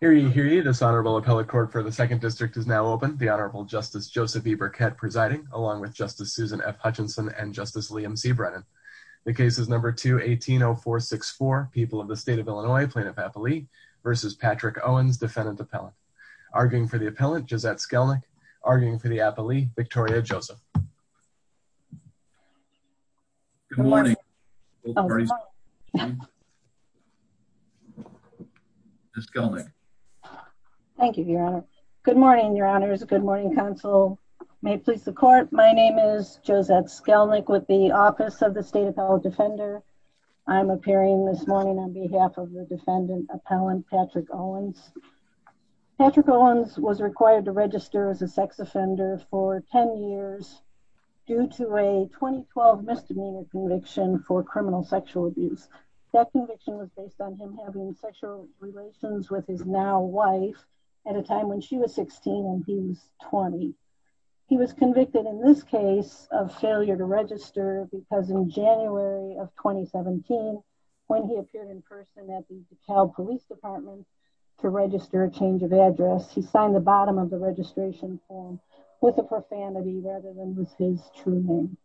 Hear ye, hear ye, this Honorable Appellate Court for the 2nd District is now open. The Honorable Justice Joseph E. Burkett presiding, along with Justice Susan F. Hutchinson and Justice Liam C. Brennan. The case is No. 2-180464, People of the State of Illinois, Plaintiff-Appellee vs. Patrick Owens, Defendant-Appellant. Arguing for the Appellant, Josette Skelnick. Arguing for the Appellee, Victoria Joseph. Good morning. Both parties. Ms. Skelnick? Thank you, Your Honor. Good morning, Your Honors. Good morning, Counsel. May it please the Court, my name is Josette Skelnick with the Office of the State Appellate Defender. I'm appearing this morning on behalf of the Defendant-Appellant, Patrick Owens. Patrick Owens was required to register as a sex offender for ten years due to a 2012 misdemeanor conviction for criminal sexual abuse. That conviction was based on him having sexual relations with his now-wife at a time when she was 16 and he was 20. He was convicted in this case of failure to register because in January of 2017, when he appeared in person at the DeKalb Police Department to register a change of address, he signed the bottom of the registration form with a profanity rather than with his true name.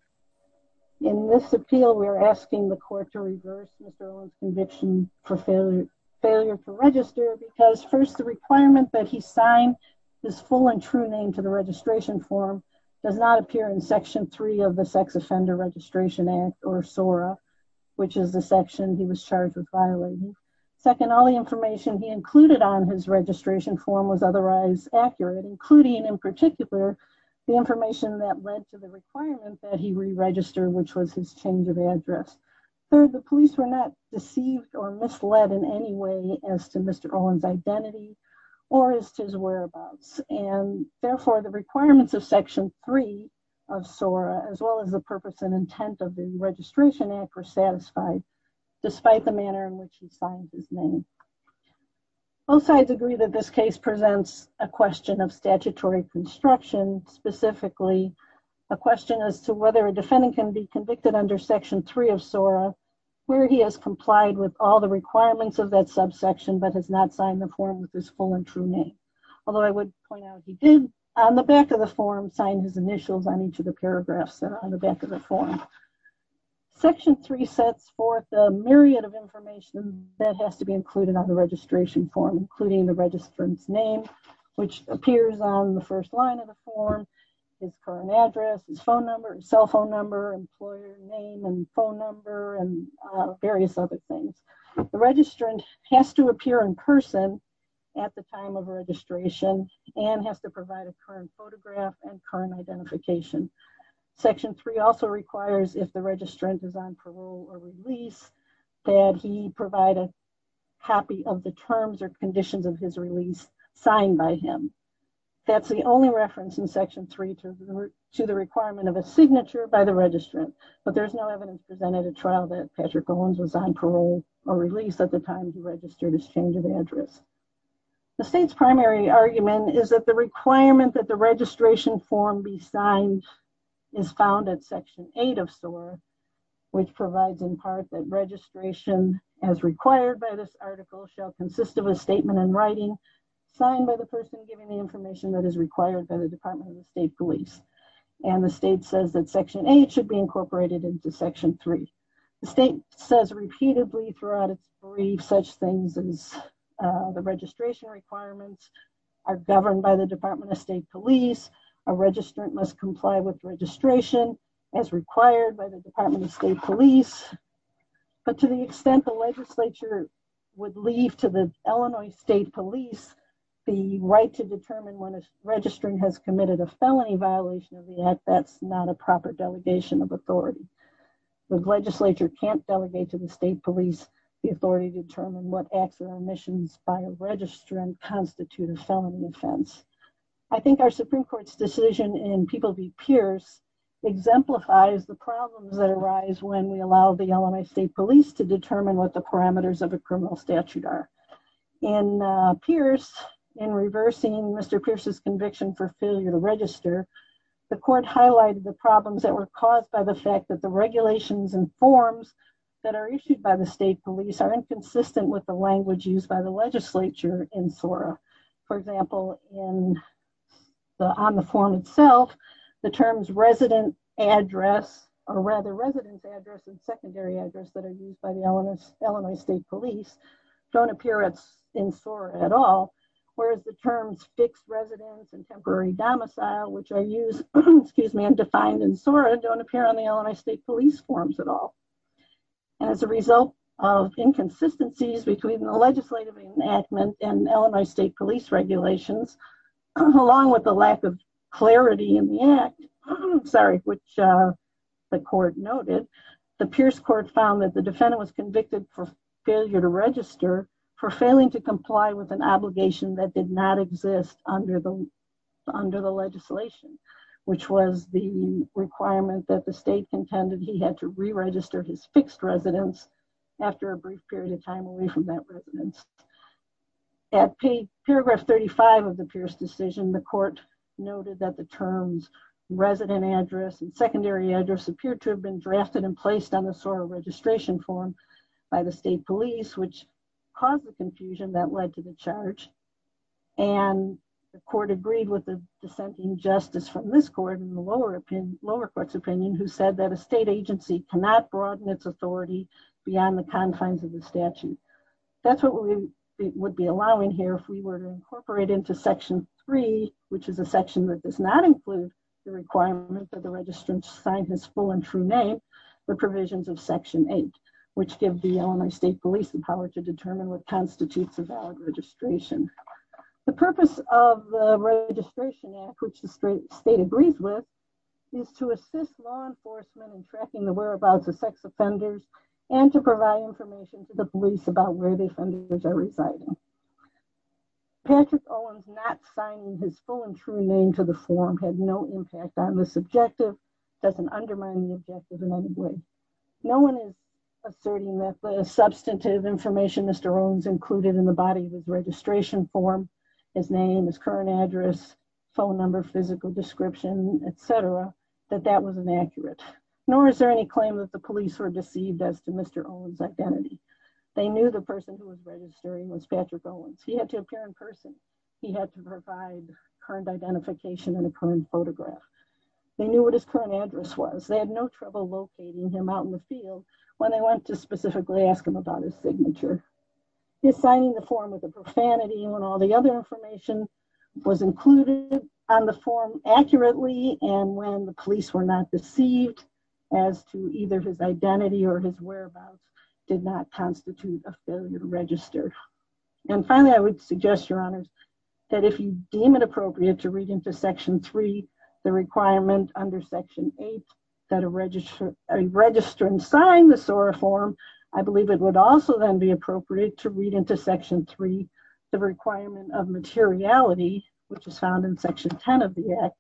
In this appeal, we are asking the Court to reverse Mr. Owens' conviction for failure to register because first, the requirement that he sign his full and true name to the registration form does not appear in Section 3 of the Sex Offender Registration Act or SORA, which is the section he was charged with violating. Second, all the information he included on his registration form was otherwise accurate, including in particular, the information that led to the requirement that he re-register, which was his change of address. Third, the police were not deceived or misled in any way as to Mr. Owens' identity or as to his whereabouts, and therefore, the requirements of Section 3 of SORA, as well as the purpose and intent of the Registration Act were satisfied, despite the manner in which he signed his name. Both sides agree that this case presents a question of statutory construction, specifically, a question as to whether a defendant can be convicted under Section 3 of SORA where he has complied with all the requirements of that subsection but has not signed the form with his full and true name, although I would point out he did, on the back of the form, sign his initials on each of the paragraphs on the back of the form. Section 3 sets forth a myriad of information that has to be included on the registration form, including the registrant's name, which appears on the first line of the form, his current address, his phone number, cell phone number, employer name, and phone number, and various other things. The registrant has to appear in person at the time of registration and has to provide a current photograph and current identification. Section 3 also requires, if the registrant is on parole or release, that he provide a copy of the terms or conditions of his release signed by him. That's the only reference in Section 3 to the requirement of a signature by the registrant, but there's no evidence presented at trial that Patrick Owens was on parole or release at the time he registered his change of address. The state's primary argument is that the requirement that the registration form be signed is found at Section 8 of SOAR, which provides, in part, that registration, as required by this article, shall consist of a statement in writing signed by the person giving the information that is required by the Department of State Police. And the state says that Section 8 should be incorporated into Section 3. The state says repeatedly throughout its brief such things as the registration requirements are governed by the Department of State Police, a registrant must comply with registration as required by the Department of State Police, but to the extent the legislature would leave to the Illinois State Police the right to determine when a registrant has committed a felony violation of the act, that's not a proper delegation of authority. If the legislature can't delegate to the state police the authority to determine what acts or omissions by a registrant constitute a felony offense. I think our Supreme Court's decision in People v. Pierce exemplifies the problems that arise when we allow the Illinois State Police to determine what the parameters of a criminal statute are. In Pierce, in reversing Mr. Pierce's conviction for failure to register, the court highlighted the problems that were caused by the fact that the regulations and forms that are issued by the state police are inconsistent with the language used by the legislature in SORA. For example, on the form itself, the terms resident address, or rather resident address and secondary address that are used by the Illinois State Police don't appear in SORA at all, whereas the terms fixed residence and temporary domicile, which are used, excuse me, and defined in SORA, don't appear on the Illinois State Police forms at all. As a result of inconsistencies between the legislative enactment and Illinois State Police regulations, along with the lack of clarity in the act, sorry, which the court noted, the Pierce court found that the defendant was convicted for failure to register for failing to comply with an obligation that did not exist under the legislation, which was the requirement that the state contended he had to re-register his fixed residence after a brief period of time away from that residence. At paragraph 35 of the Pierce decision, the court noted that the terms resident address and secondary address appeared to have been drafted and placed on the SORA registration form by the state police, which caused the confusion that led to the charge. And the court agreed with the dissenting justice from this court in the lower opinion, lower court's opinion, who said that a state agency cannot broaden its authority beyond the confines of the statute. That's what we would be allowing here if we were to incorporate into section three, which is a section that does not include the requirement that the registrant sign his full and true name, the provisions of section eight, which give the Illinois state police the power to determine what constitutes a valid registration. The purpose of the registration act, which the state agrees with, is to assist law enforcement in tracking the whereabouts of sex offenders and to provide information to the police about where the offenders are residing. Patrick Owens not signing his full and true name to the form had no impact on this objective, nor does it undermine the objective in any way. No one is asserting that the substantive information Mr. Owens included in the body of his registration form, his name, his current address, phone number, physical description, et cetera, that that was inaccurate. Nor is there any claim that the police were deceived as to Mr. Owens' identity. They knew the person who was registering was Patrick Owens. He had to appear in person. He had to provide current identification and a current photograph. They knew what his current address was. They had no trouble locating him out in the field when they went to specifically ask him about his signature. His signing the form was a profanity when all the other information was included on the form accurately and when the police were not deceived as to either his identity or his whereabouts did not constitute a failure to register. And finally, I would suggest, Your Honors, that if you deem it appropriate to read into Section 3 the requirement under Section 8 that a registrant sign the SORA form, I believe it would also then be appropriate to read into Section 3 the requirement of materiality, which is found in Section 10 of the Act,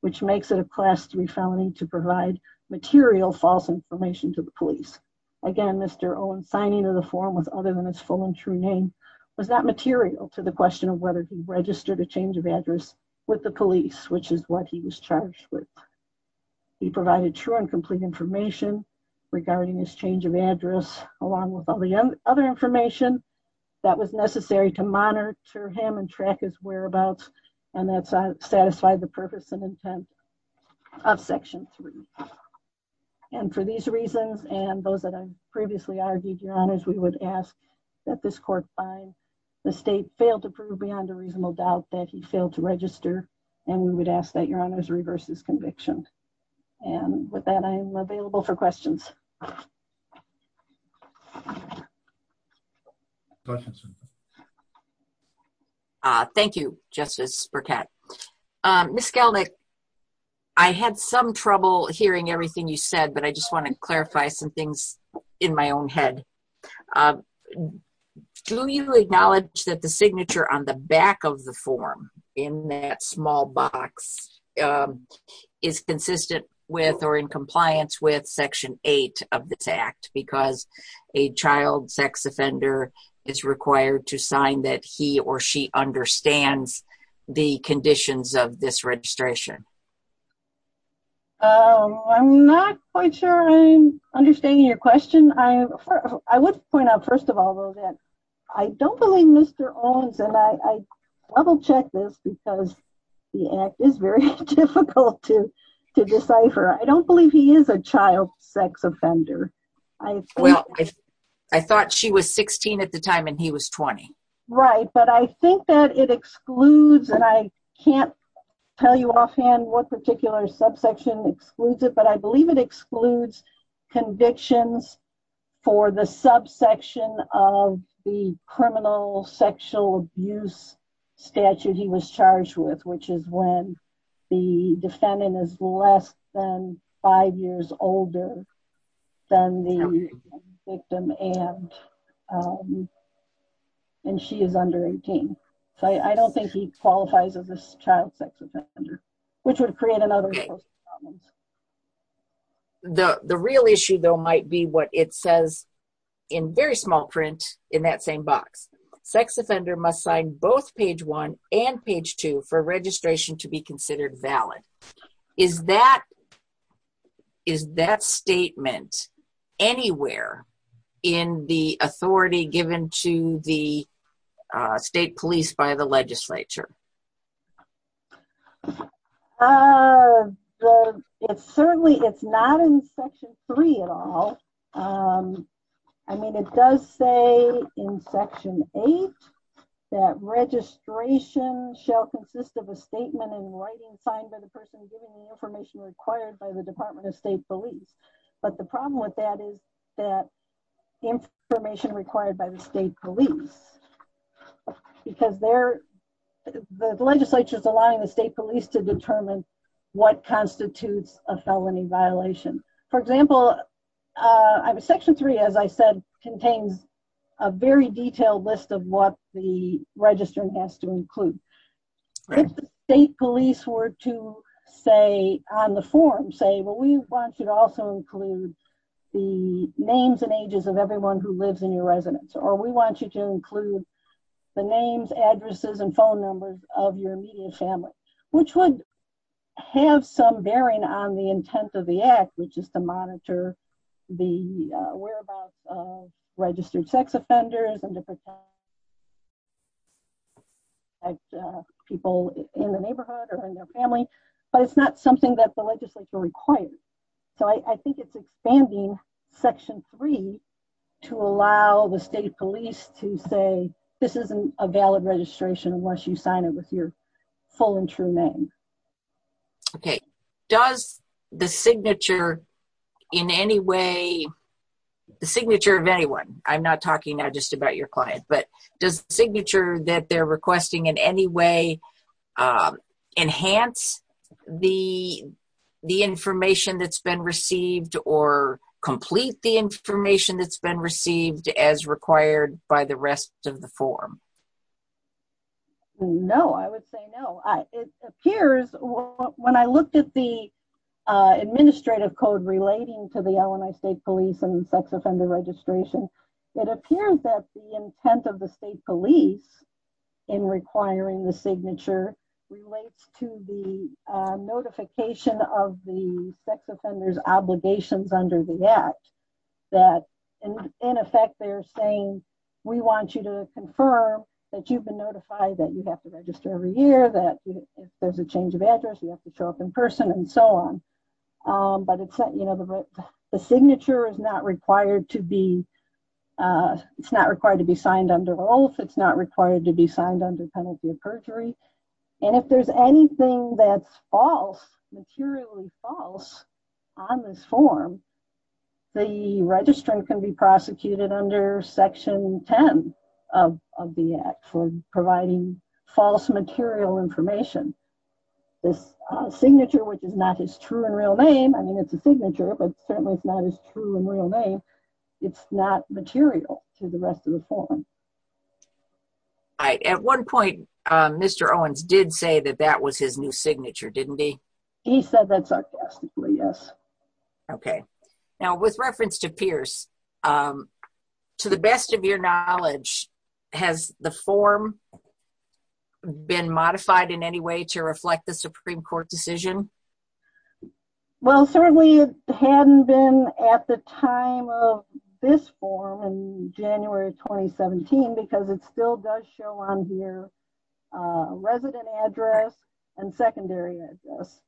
which makes it a Class 3 felony to provide material false information to the police. Again, Mr. Owens' signing of the form was other than his full and true name was not which is what he was charged with. He provided true and complete information regarding his change of address along with all the other information that was necessary to monitor him and track his whereabouts and that satisfied the purpose and intent of Section 3. And for these reasons and those that I previously argued, Your Honors, we would ask that this we would ask that Your Honors reverse this conviction. And with that, I am available for questions. Questions? Thank you, Justice Burkett. Ms. Gelnick, I had some trouble hearing everything you said, but I just want to clarify some things in my own head. Do you acknowledge that the signature on the back of the form in that small box is consistent with or in compliance with Section 8 of this Act because a child sex offender is required to sign that he or she understands the conditions of this registration? I'm not quite sure I understand your question. I would point out, first of all, though, that I don't believe Mr. Owens, and I double-checked this because the Act is very difficult to decipher, I don't believe he is a child sex offender. Well, I thought she was 16 at the time and he was 20. Right, but I think that it excludes, and I can't tell you offhand what particular subsection excludes it, but I believe it excludes convictions for the subsection of the criminal sexual abuse statute he was charged with, which is when the defendant is less than five years older than the victim and she is under 18. I don't think he qualifies as a child sex offender, which would create another problem. The real issue, though, might be what it says in very small print in that same box. Sex offender must sign both page 1 and page 2 for registration to be considered valid. Is that statement anywhere in the authority given to the state police by the legislature? It certainly is not in Section 3 at all. I mean, it does say in Section 8 that registration shall consist of a statement in writing signed by the person giving the information required by the Department of State Police, but the problem with that is that information required by the state police, because the legislature is allowing the state police to determine what constitutes a felony violation. For example, Section 3, as I said, contains a very detailed list of what the registrant has to include. If the state police were to say on the form, say, well, we want you to also include the names and ages of everyone who lives in your residence, or we want you to include the names, addresses, and phone numbers of your immediate family, which would have some bearing on the intent of the act, which is to monitor the whereabouts of registered sex offenders and people in the neighborhood or in their family, but it's not something that the legislature requires. So, I think it's expanding Section 3 to allow the state police to say, this isn't a valid registration unless you sign it with your full and true name. Okay, does the signature in any way, the signature of anyone, I'm not talking now just about your client, but does the signature that they're requesting in any way enhance the information that's been received or complete the information that's been received as required by the rest of the form? No, I would say no. It appears, when I looked at the administrative code relating to the Illinois State Police and sex offender registration, it appears that the intent of the state police in requiring the signature relates to the notification of the sex offenders' obligations under the act, that in effect, they're saying, we want you to confirm that you've been notified that you have to register every year, that there's a change of address, you have to show up in But it's not, you know, the signature is not required to be, it's not required to be signed under oath, it's not required to be signed under penalty of perjury. And if there's anything that's false, materially false on this form, the registrant can be prosecuted under Section 10 of the act for providing false material information. This signature, which is not his true and real name, I mean, it's a signature, but certainly it's not his true and real name, it's not material to the rest of the form. All right, at one point, Mr. Owens did say that that was his new signature, didn't he? He said that sarcastically, yes. Okay, now with reference to Pierce, to the best of your knowledge, has the form been modified in any way to reflect the Supreme Court decision? Well, certainly it hadn't been at the time of this form in January 2017, because it still does show on here resident address and secondary address.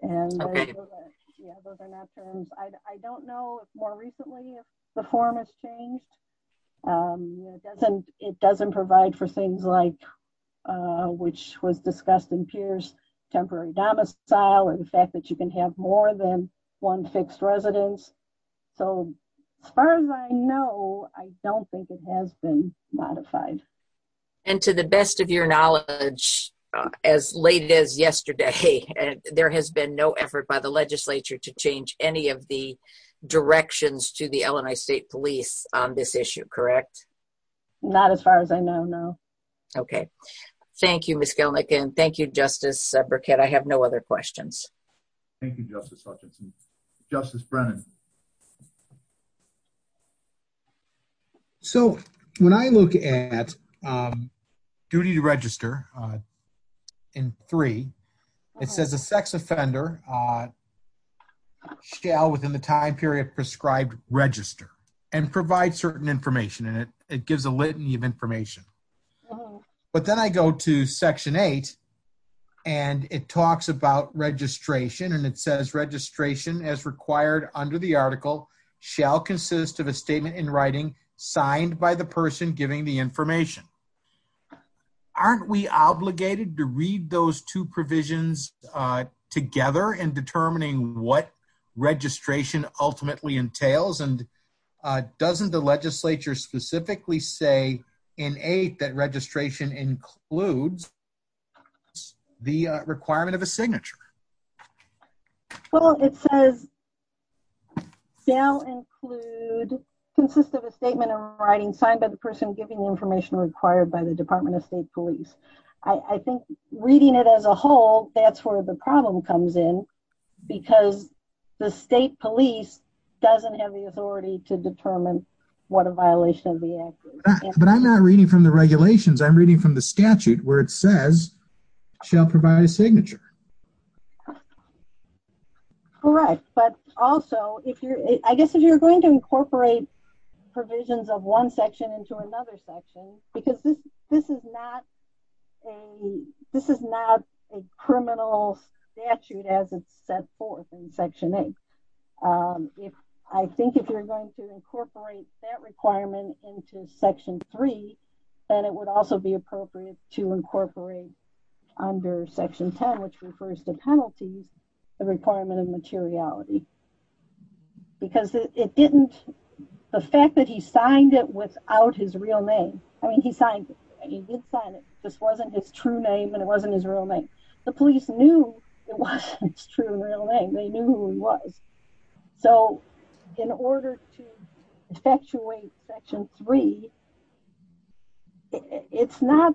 And those are not terms, I don't know if more recently if the form has changed. It doesn't provide for things like, which was discussed in Pierce, temporary domicile and the fact that you can have more than one fixed residence. So as far as I know, I don't think it has been modified. And to the best of your knowledge, as late as yesterday, there has been no effort by the legislature to change any of the directions to the Illinois State Police on this issue, correct? Not as far as I know, no. Okay, thank you, Ms. Gelnick. And thank you, Justice Burkett. I have no other questions. Thank you, Justice Hutchinson. Justice Brennan. So when I look at duty to register in three, it says a sex offender shall within the time period prescribed register and provide certain information and it gives a litany of information. But then I go to section eight, and it talks about registration and it says registration as required under the article shall consist of a statement in writing signed by the person giving the information. Aren't we obligated to read those two provisions together in determining what registration ultimately entails? And doesn't the legislature specifically say in eight that registration includes the requirement of a signature? Well, it says, shall include consist of a statement in writing signed by the person giving the information required by the Department of State Police. I think reading it as a whole, that's where the problem comes in. Because the state police doesn't have the authority to determine what a violation of the act is. But I'm not reading from the regulations. Correct. But also, I guess if you're going to incorporate provisions of one section into another section, because this is not a criminal statute as it's set forth in section eight. I think if you're going to incorporate that requirement into section three, then it would also be appropriate to incorporate under section 10, which refers to penalties, the requirement of materiality. Because it didn't, the fact that he signed it without his real name. I mean, he signed it. He did sign it. This wasn't his true name and it wasn't his real name. The police knew it wasn't his true real name. They knew who he was. So in order to effectuate section three, it's not,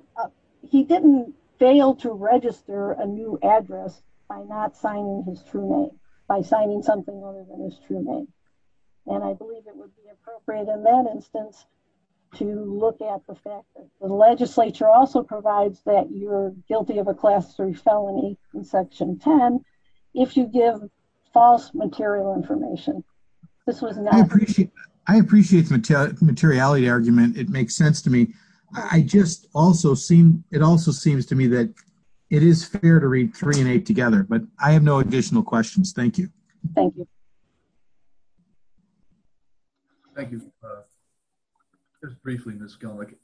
he didn't fail to register a new address by not signing his true name, by signing something other than his true name. And I believe it would be appropriate in that instance to look at the fact that the legislature also provides that you're guilty of a class three felony in section 10 if you give false material information. I appreciate the materiality argument. It makes sense to me. I just also seem, it also seems to me that it is fair to read three and eight together, but I have no additional questions. Thank you. Thank you. Thank you. Just briefly, Ms. Gilliam,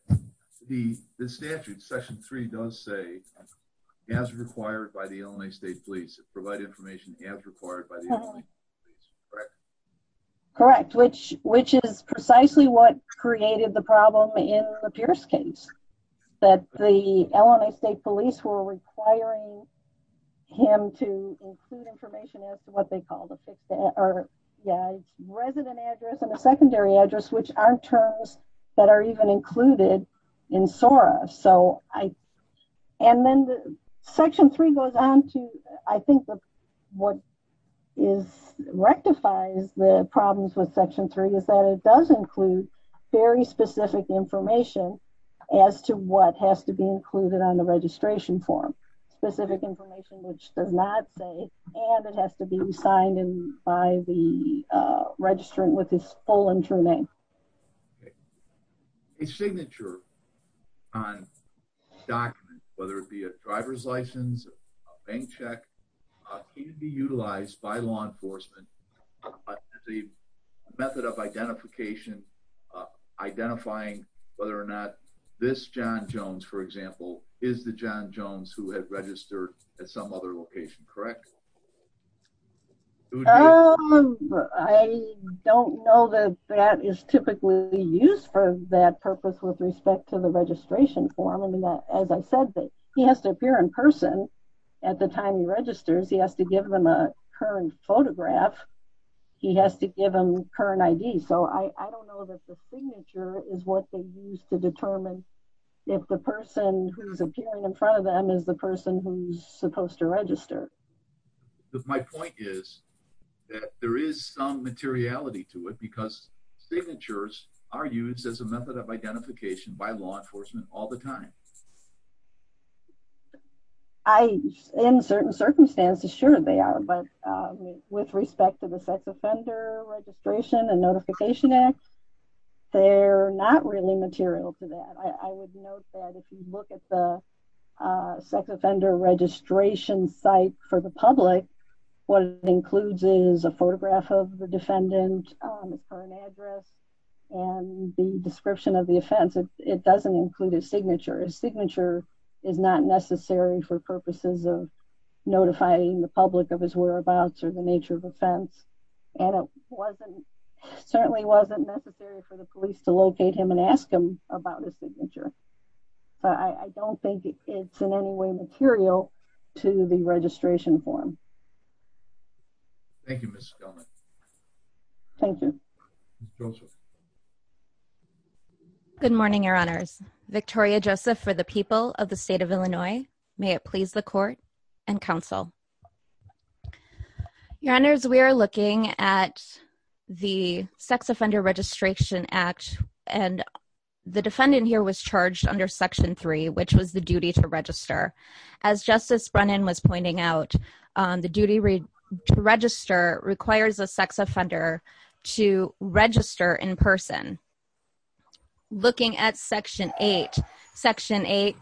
the statute, section three does say, as required by the LNA state police, provide information as required by the LNA state police, correct? Correct. Which is precisely what created the problem in the Pierce case, that the LNA state police were requiring him to include information as to what they called a resident address and a secondary address, which aren't terms that are even included in SORA. So I, and then the section three goes on to, I think what is rectifies the problems with section three is that it does include very specific information as to what has to be included on the registration form, specific information, which does not say, and it has to be signed by the registrant with his full and true name. Okay. A signature on documents, whether it be a driver's license, a bank check, can be utilized by law enforcement as a method of identification, identifying whether or not this John Jones, for example, is the John Jones who had registered at some other location, correct? Um, I don't know that that is typically used for that purpose with respect to the registration form. I mean, that, as I said, that he has to appear in person at the time he registers, he has to give them a current photograph. He has to give them current ID. So I don't know that the signature is what they use to determine if the person who's my point is that there is some materiality to it because signatures are used as a method of identification by law enforcement all the time. I, in certain circumstances, sure they are. But with respect to the sex offender registration and notification act, they're not really material to that. I would note that if you look at the sex offender registration site for the public, what it includes is a photograph of the defendant on the current address and the description of the offense. It doesn't include a signature. A signature is not necessary for purposes of notifying the public of his whereabouts or the nature of offense. And it wasn't certainly wasn't necessary for the police to locate him and ask him about the signature. But I don't think it's in any way material to the registration form. Thank you, Ms. Skelman. Thank you. Good morning, your honors. Victoria Joseph for the people of the state of Illinois. May it please the court and counsel. Your honors, we are looking at the sex offender registration act and the defendant here was charged under section three, which was the duty to register. As Justice Brennan was pointing out, the duty to register requires a sex offender to register in person. Looking at section eight, section eight.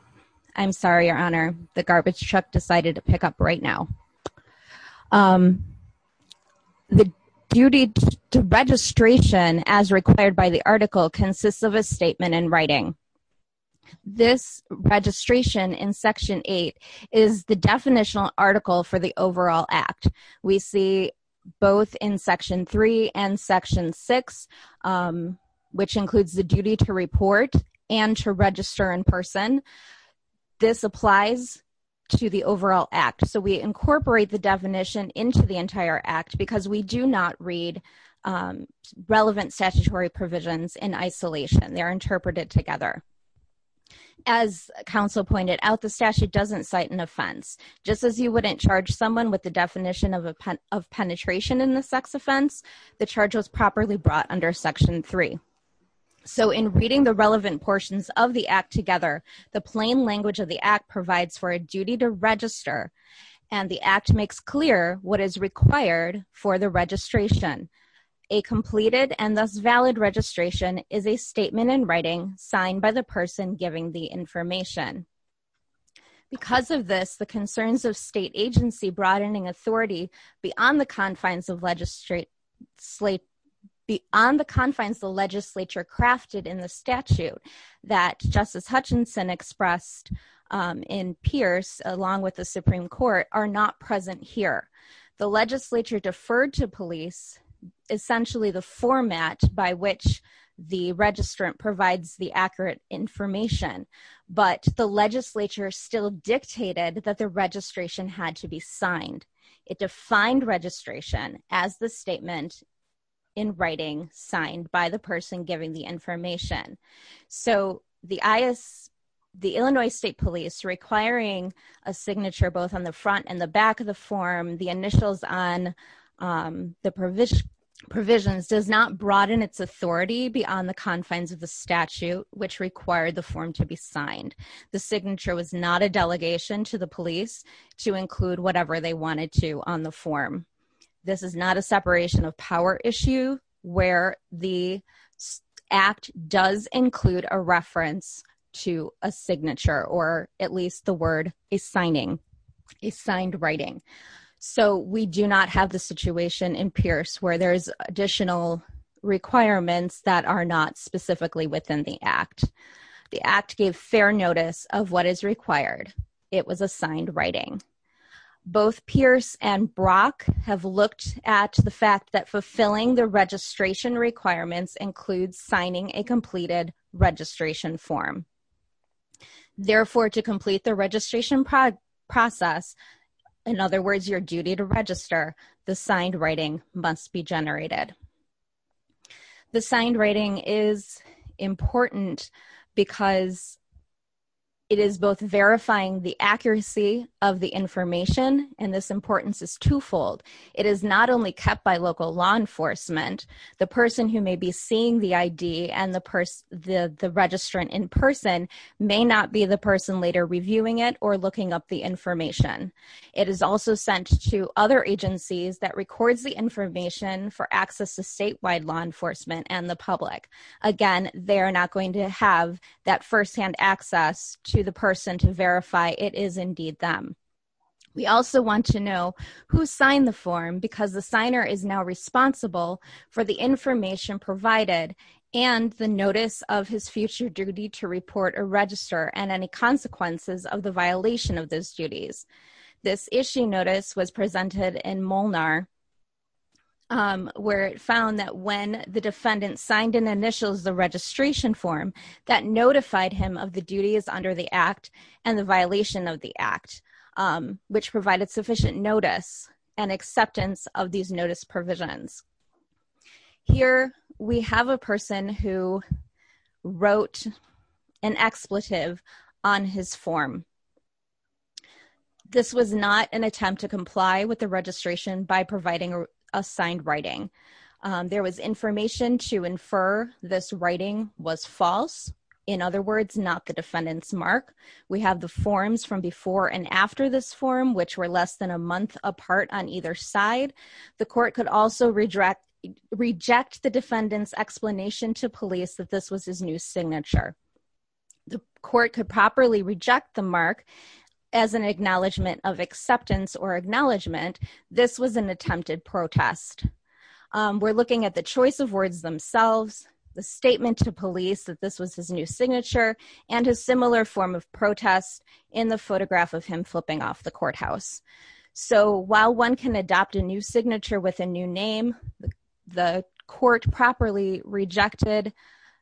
I'm sorry, your honor. The garbage truck decided to pick up right now. The duty to registration as required by the article consists of a statement in writing. This registration in section eight is the definitional article for the overall act. We see both in section three and section six, which includes the duty to report and to register in person. This applies to the overall act. We incorporate the definition into the entire act because we do not read relevant statutory provisions in isolation. They're interpreted together. As counsel pointed out, the statute doesn't cite an offense. Just as you wouldn't charge someone with the definition of penetration in the sex offense, the charge was properly brought under section three. In reading the relevant portions of the act together, the plain language of the act provides for a duty to register. And the act makes clear what is required for the registration. A completed and thus valid registration is a statement in writing signed by the person giving the information. Because of this, the concerns of state agency broadening authority beyond the confines of legislature crafted in the statute that Justice Hutchinson expressed in Pierce, along with the Supreme Court, are not present here. The legislature deferred to police essentially the format by which the registrant provides the accurate information. But the legislature still dictated that the registration had to be signed. It defined registration as the statement in writing signed by the person giving the information. So, the Illinois State Police requiring a signature both on the front and the back of the form, the initials on the provisions does not broaden its authority beyond the confines of the statute which required the form to be signed. The signature was not a delegation to the police to include whatever they wanted to on the form. This is not a separation of power issue where the act does include a reference to a signature or at least the word a signing, a signed writing. So, we do not have the situation in Pierce where there's additional requirements that are not specifically within the act. The act gave fair notice of what is required. It was a signed writing. Both Pierce and Brock have looked at the fact that fulfilling the registration requirements includes signing a completed registration form. Therefore, to complete the registration process, in other words, your duty to register, the signed writing must be generated. The signed writing is important because it is both verifying the accuracy of the information and this importance is twofold. It is not only kept by local law enforcement. The person who may be seeing the ID and the person, the registrant in person may not be the person later reviewing it or looking up the information. It is also sent to other agencies that records the information for access to statewide law enforcement and the public. Again, they are not going to have that firsthand access to the person to verify it is indeed them. We also want to know who signed the form because the signer is now responsible for the information provided and the notice of his future duty to report or register and any consequences of the violation of those duties. This issue notice was presented in Molnar where it found that when the defendant signed in initials the registration form, that notified him of the duties under the act and the violation of the act, which provided sufficient notice and acceptance of these notice provisions. Here we have a person who wrote an expletive on his form. This was not an attempt to comply with the registration by providing a signed writing. There was information to infer this writing was false. In other words, not the defendant's mark. We have the forms from before and after this form, which were less than a month apart on either side. The court could also reject the defendant's explanation to police that this was his new signature. The court could properly reject the mark as an acknowledgement of acceptance or acknowledgement. This was an attempted protest. We're looking at the choice of words themselves, the statement to police that this was his new signature, and a similar form of protest in the photograph of him flipping off the courthouse. So while one can adopt a new signature with a new name, the court properly rejected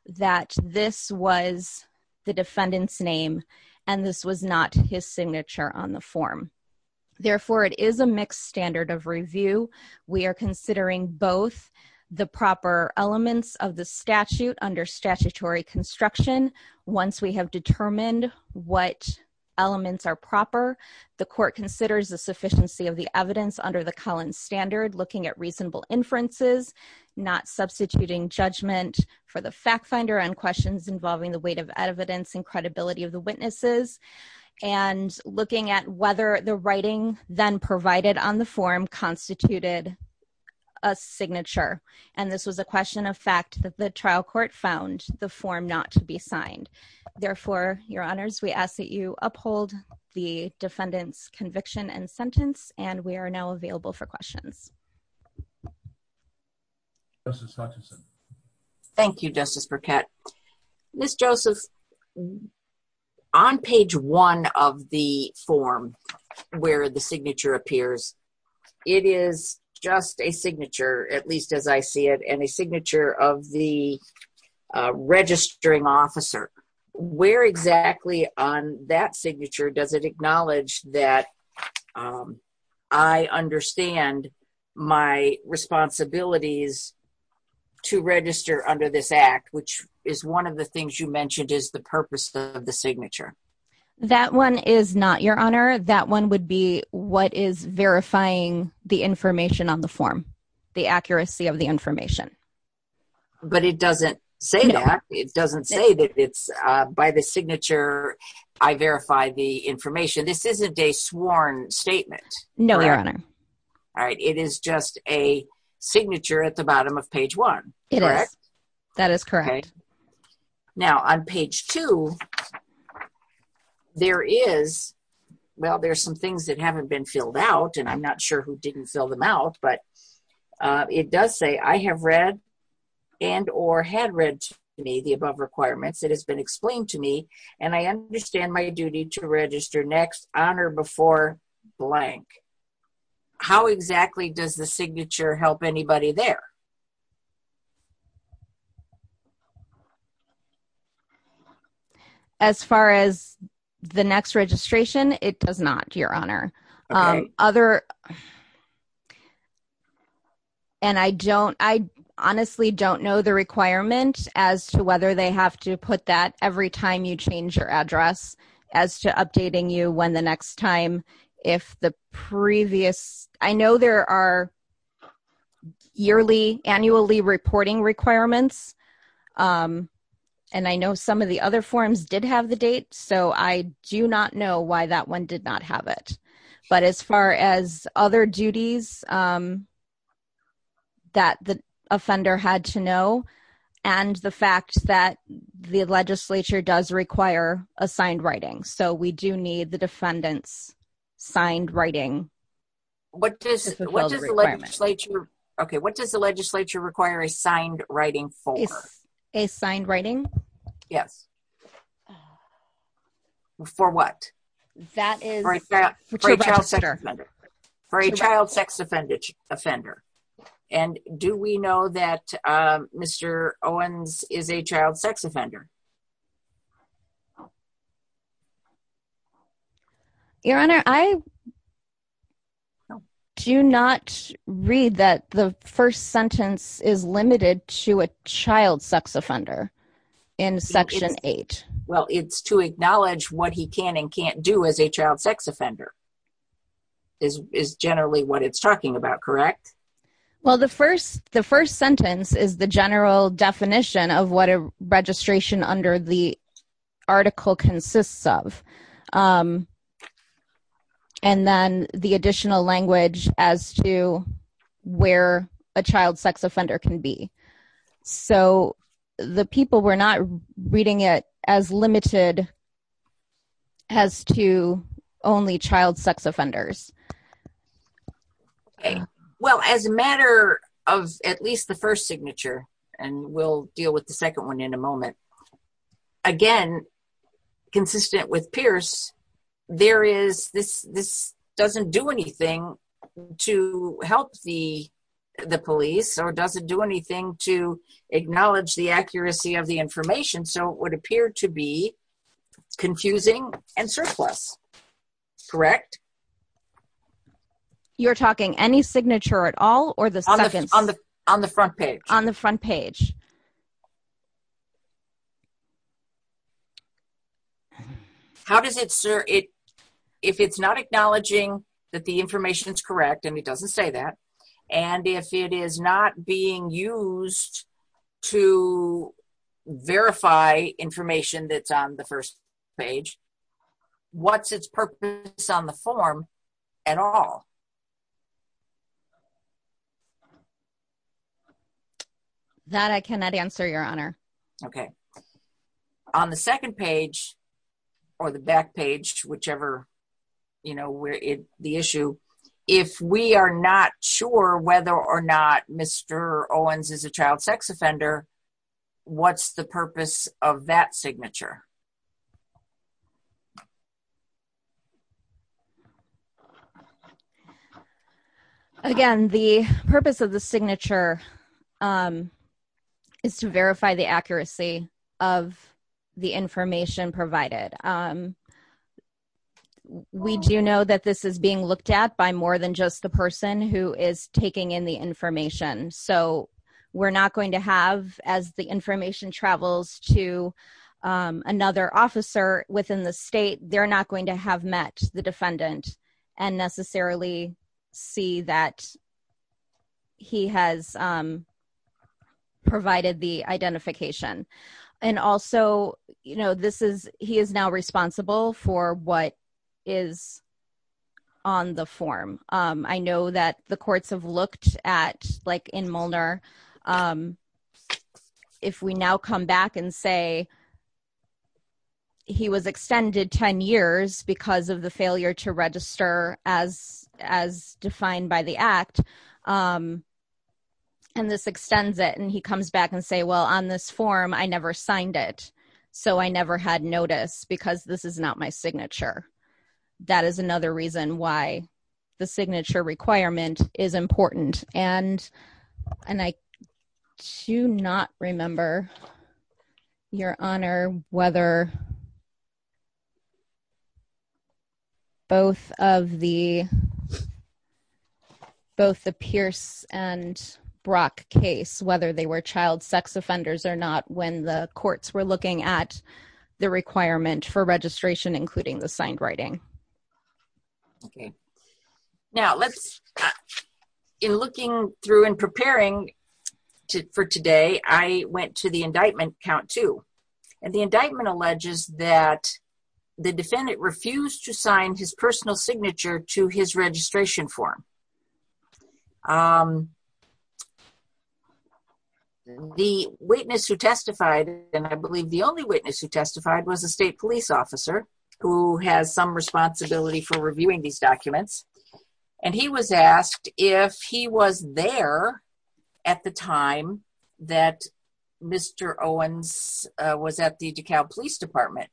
that this was the defendant's name and this was not his signature on the form. Therefore, it is a mixed standard of review. We are considering both the proper elements of the statute under statutory construction. Once we have determined what elements are proper, the court considers the sufficiency of the evidence under the Cullen standard, looking at reasonable inferences, not substituting judgment for the fact finder on questions involving the weight of evidence and credibility of the witnesses, and looking at whether the writing then provided on the form constituted a signature. And this was a question of fact that the trial court found the form not to be signed. Therefore, your honors, we ask that you uphold the defendant's conviction and sentence, and we are now available for questions. Thank you, Justice Burkett. Ms. Joseph, on page one of the form where the signature appears, it is just a signature, at least as I see it, and a signature of the registering officer. Where exactly on that signature does it acknowledge that I understand my responsibilities to register under this act, which is one of the things you mentioned is the purpose of the signature? That one is not, your honor. That one would be what is verifying the information on the form. The accuracy of the information. But it doesn't say that. It doesn't say that it's by the signature, I verify the information. This isn't a sworn statement. No, your honor. All right. It is just a signature at the bottom of page one. It is. That is correct. Now, on page two, there is, well, there's some things that haven't been filled out, I'm not sure who didn't fill them out, but it does say I have read and or had read to me the above requirements. It has been explained to me, and I understand my duty to register next honor before blank. How exactly does the signature help anybody there? As far as the next registration, it does not, your honor. Other, and I don't, I honestly don't know the requirement as to whether they have to put that every time you change your address as to updating you when the next time if the previous, I know there are yearly, annually reporting requirements, and I know some of the other forms did have the date, so I do not know why that one did not have it. But as far as other duties that the offender had to know, and the fact that the legislature does require a signed writing, so we do need the defendant's signed writing. What does the legislature, okay, what does the legislature require a signed writing for? A signed writing? Yes. For what? That is. For a child sex offender. And do we know that Mr. Owens is a child sex offender? Your honor, I do not read that the first sentence is limited to a child sex offender in section eight. Well, it's to acknowledge what he can and can't do as a child sex offender is generally what it's talking about, correct? Well, the first sentence is the general definition of what a registration under the article consists of. And then the additional language as to where a child sex offender can be. So the people were not reading it as limited as to only child sex offenders. Well, as a matter of at least the first signature, and we'll deal with the second one in a moment, again, consistent with Pierce, there is, this doesn't do anything to help the police or doesn't do anything to acknowledge the accuracy of the information. So it would appear to be confusing and surplus, correct? You're talking any signature at all or the second? On the front page. On the front page. How does it, sir, it, if it's not acknowledging that the information is correct, and it doesn't say that, and if it is not being used to verify information that's on the first page, what's its purpose on the form at all? That I cannot answer, Your Honor. Okay. On the second page, or the back page, whichever, you know, where it, the issue, if we are not sure whether or not Mr. Owens is a child sex offender, what's the purpose of that signature? Again, the purpose of the signature is to verify the accuracy of the information provided. We do know that this is being looked at by more than just the person who is taking in the information. So we're not going to have, as the information travels, to identify the person who is taking another officer within the state. They're not going to have met the defendant and necessarily see that he has provided the identification. And also, you know, this is, he is now responsible for what is on the form. I know that the courts have looked at, like in Molnar, if we now come back and say, he was extended 10 years because of the failure to register as defined by the act. And this extends it, and he comes back and say, well, on this form, I never signed it. So I never had notice because this is not my signature. That is another reason why the signature requirement is important. And I do not remember, Your Honor, whether both of the, both the Pierce and Brock case, whether they were child sex offenders or not, when the courts were looking at the requirement for registration, including the signed writing. Okay, now let's, in looking through and preparing for today, I went to the indictment count two. And the indictment alleges that the defendant refused to sign his personal signature to his registration form. The witness who testified, and I believe the only witness who testified, was a state police officer who has some responsibility for reviewing these documents. And he was asked if he was there at the time that Mr. Owens was at the DeKalb Police Department.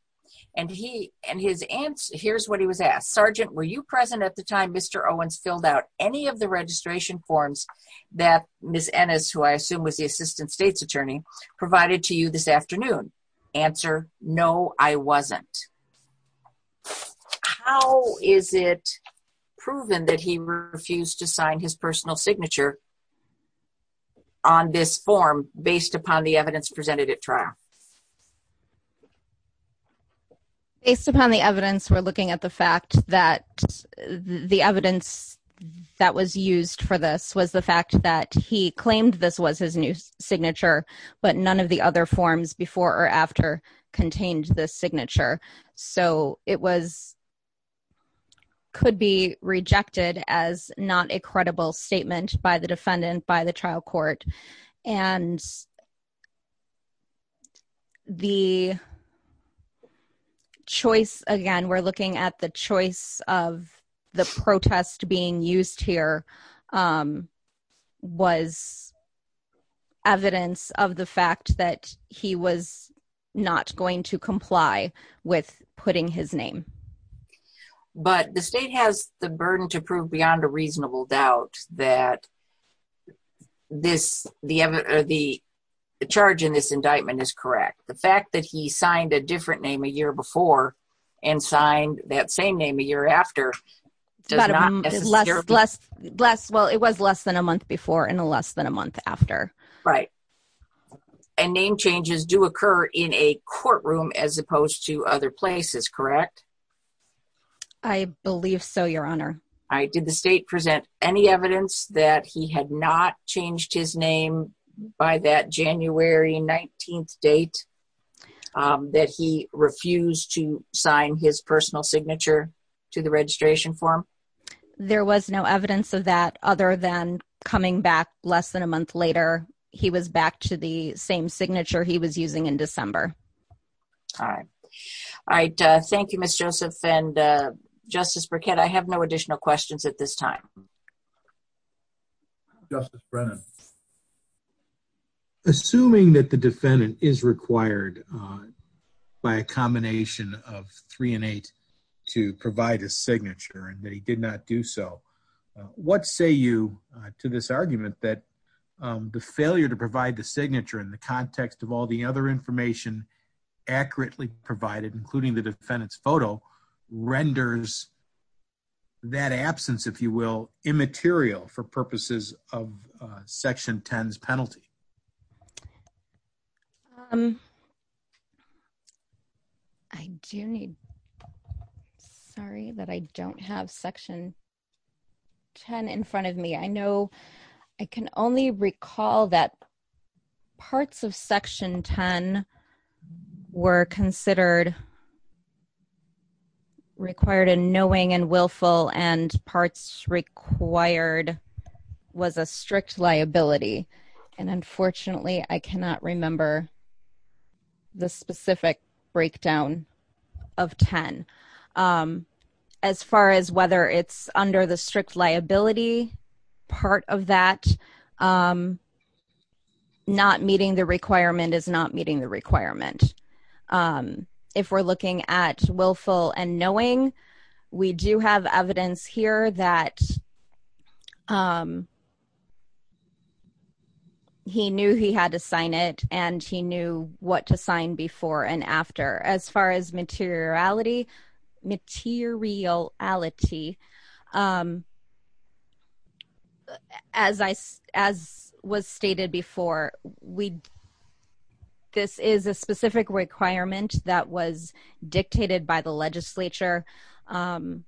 And he, and his answer, here's what he was asked. Sergeant, were you present at the time Mr. Owens filled out any of the registration forms that Ms. Ennis, who I assume was the assistant state's attorney, provided to you this afternoon? Answer, no, I wasn't. How is it proven that he refused to sign his personal signature on this form based upon the evidence presented at trial? Based upon the evidence, we're looking at the fact that the evidence that was used for this was the fact that he claimed this was his new signature, but none of the other forms before or after contained this signature. So it was, could be rejected as not a credible statement by the defendant, by the trial court. And the choice, again, we're looking at the choice of the protest being used here, um, was evidence of the fact that he was not going to comply with putting his name. But the state has the burden to prove beyond a reasonable doubt that this, the, or the charge in this indictment is correct. The fact that he signed a different name a year before and signed that same name a year after does not necessarily... Less, less, less, well, it was less than a month before and less than a month after. Right. And name changes do occur in a courtroom as opposed to other places, correct? I believe so, your honor. Did the state present any evidence that he had not changed his name by that January 19th date, um, that he refused to sign his personal signature to the registration form? There was no evidence of that other than coming back less than a month later, he was back to the same signature he was using in December. All right. All right. Thank you, Ms. Joseph and, uh, Justice Burkett. I have no additional questions at this time. Justice Brennan. Uh, assuming that the defendant is required, uh, by a combination of three and eight to provide a signature and that he did not do so, uh, what say you, uh, to this argument that, um, the failure to provide the signature in the context of all the other information accurately provided, including the defendant's photo, renders that absence, if you will, immaterial for purposes of, uh, Section 10's penalty? Um, I do need, sorry that I don't have Section 10 in front of me. I know, I can only recall that parts of Section 10 were considered required in knowing and willful, and parts required was a strict liability. And unfortunately, I cannot remember the specific breakdown of 10. Um, as far as whether it's under the strict liability part of that, um, not meeting the requirement is not meeting the requirement. Um, if we're looking at willful and knowing, we do have evidence here that, um, he knew he had to sign it, and he knew what to sign before and after. As far as materiality, materiality, um, as I, as was stated before, we, um, this is a specific requirement that was dictated by the legislature, um,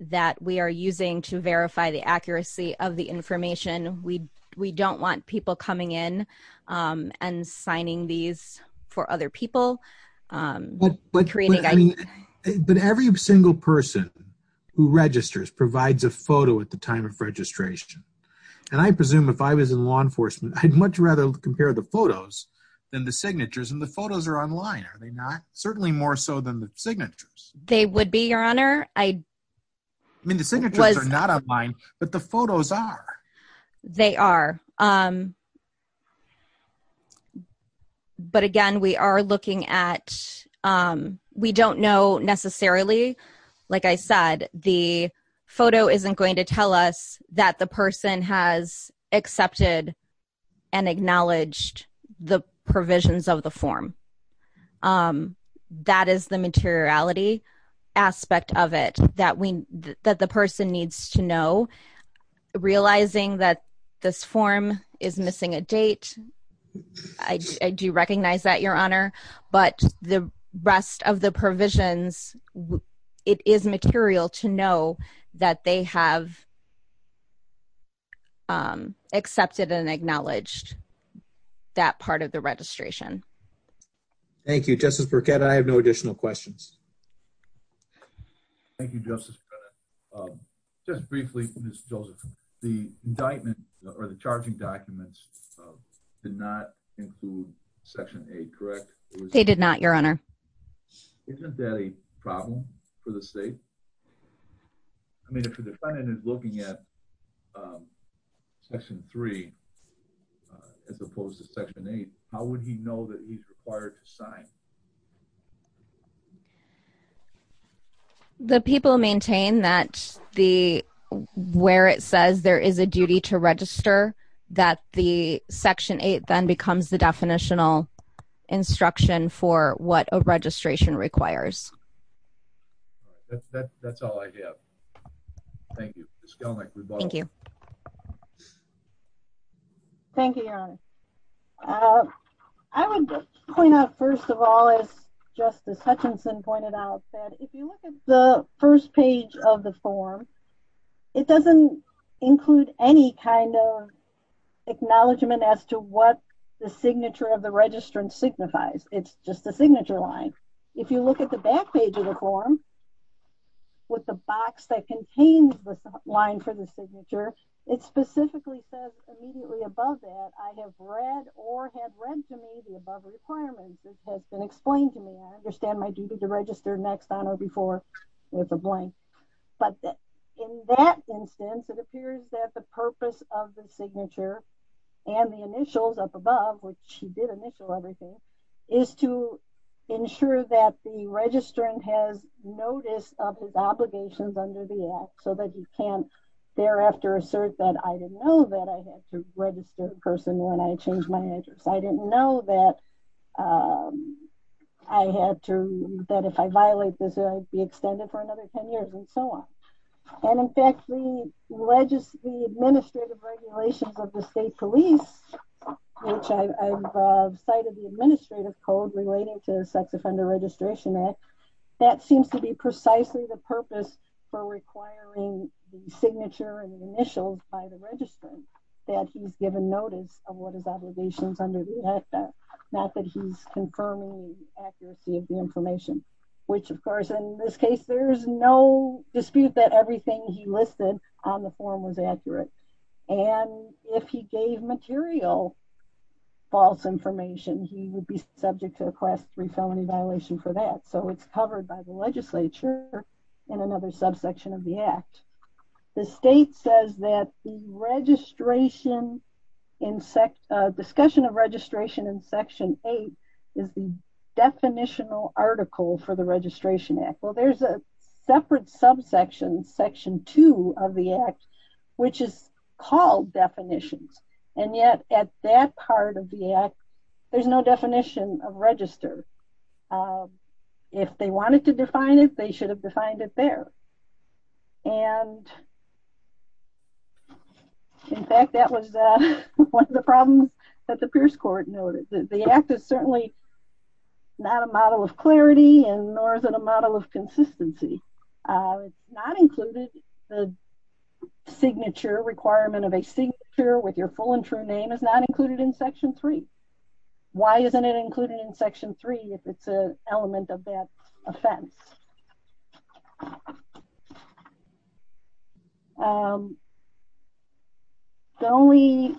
that we are using to verify the accuracy of the information. We, we don't want people coming in, um, and signing these for other people, um, creating, I mean, But every single person who registers provides a photo at the time of registration. And I presume if I was in law enforcement, I'd much rather compare the photos than the signatures, and the photos are online, are they not? Certainly more so than the signatures. They would be, Your Honor. I I mean, the signatures are not online, but the photos are. They are. Um, but again, we are looking at, um, we don't know necessarily, like I said, the photo isn't going to tell us that the person has accepted and acknowledged the provisions of the form. Um, that is the materiality aspect of it that we, that the person needs to know, realizing that this form is missing a date. I do recognize that, Your Honor. But the rest of the provisions, it is material to know that they have, um, accepted and acknowledged that part of the registration. Thank you, Justice Burkett. I have no additional questions. Thank you, Justice Burkett. Um, just briefly, Ms. Joseph, the indictment, or the charging documents, did not include Section 8, correct? They did not, Your Honor. Isn't that a problem for the state? I mean, if the defendant is looking at, um, Section 3, as opposed to Section 8, how would he know that he's required to sign? The people maintain that the, where it says there is a duty to register, that the Section 8 then becomes the definitional instruction for what a registration requires. That's all I have. Thank you. Ms. Gelnick, rebuttal. Thank you. Thank you, Your Honor. Uh, I would just point out, first of all, as Justice Hutchinson pointed out, that if you look at the first page of the form, it doesn't include any kind of acknowledgement as to what the signature of the registrant signifies. It's just the signature line. If you look at the back page of the form, with the box that contains the line for the signature, it specifically says immediately I have read or had read to me the above requirements. It has been explained to me. I understand my duty to register next on or before with a blank. But in that instance, it appears that the purpose of the signature and the initials up above, which he did initial everything, is to ensure that the registrant has notice of his obligations under the act, so that you can't thereafter assert that I didn't know that I had to register a person when I changed my address. I didn't know that I had to, that if I violate this, I'd be extended for another 10 years and so on. And in fact, the legislative, the administrative regulations of the state police, which I've cited the administrative code relating to the Sex Offender Registration Act, that seems to be precisely the purpose for requiring the signature and the initials by the registrant, that he's given notice of what his obligations under the act are, not that he's confirming the accuracy of the information, which of course, in this case, there is no dispute that everything he listed on the form was accurate. And if he gave material false information, he would be subject to a class three felony violation for that. So it's covered by the legislature in another subsection of the act. The state says that the registration in sect discussion of registration in section eight is the definitional article for the Registration Act. Well, there's a separate subsection, section two of the act, which is called definitions. And yet at that part of the act, there's no definition of register. If they wanted to define it, they should have defined it there. And in fact, that was one of the problems that the Pierce Court noted that the act is certainly not a model of clarity and nor is it a model of consistency, not included the requirement of a signature with your full and true name is not included in section three. Why isn't it included in section three if it's an element of that offense? The only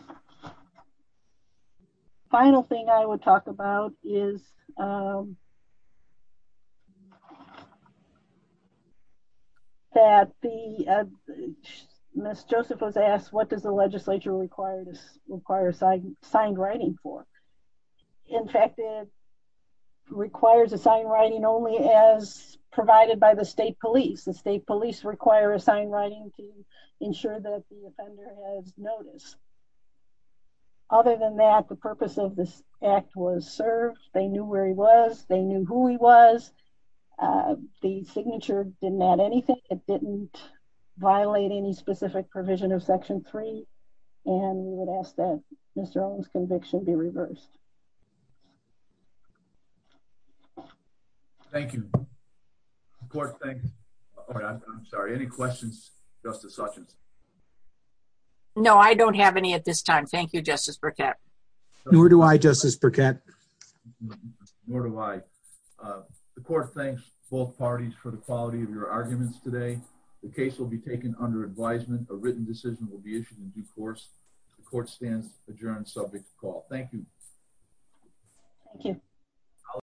final thing I would talk about is that the Ms. Joseph was asked, what does the legislature require this require sign signed writing for? In fact, it requires a sign writing only as provided by the state police, the state police require a sign writing to ensure that the offender has noticed. Other than that, the purpose of this was served. They knew where he was. They knew who he was. The signature didn't add anything. It didn't violate any specific provision of section three. And we would ask that Mr. Owens conviction be reversed. Thank you. I'm sorry. Any questions? Justice Sessions? No, I don't have any at this time. Thank you, Justice Burkett. Nor do I, Justice Burkett. Nor do I. The court thanks both parties for the quality of your arguments today. The case will be taken under advisement. A written decision will be issued in due course. The court stands adjourned. Subject call. Thank you. Thank you.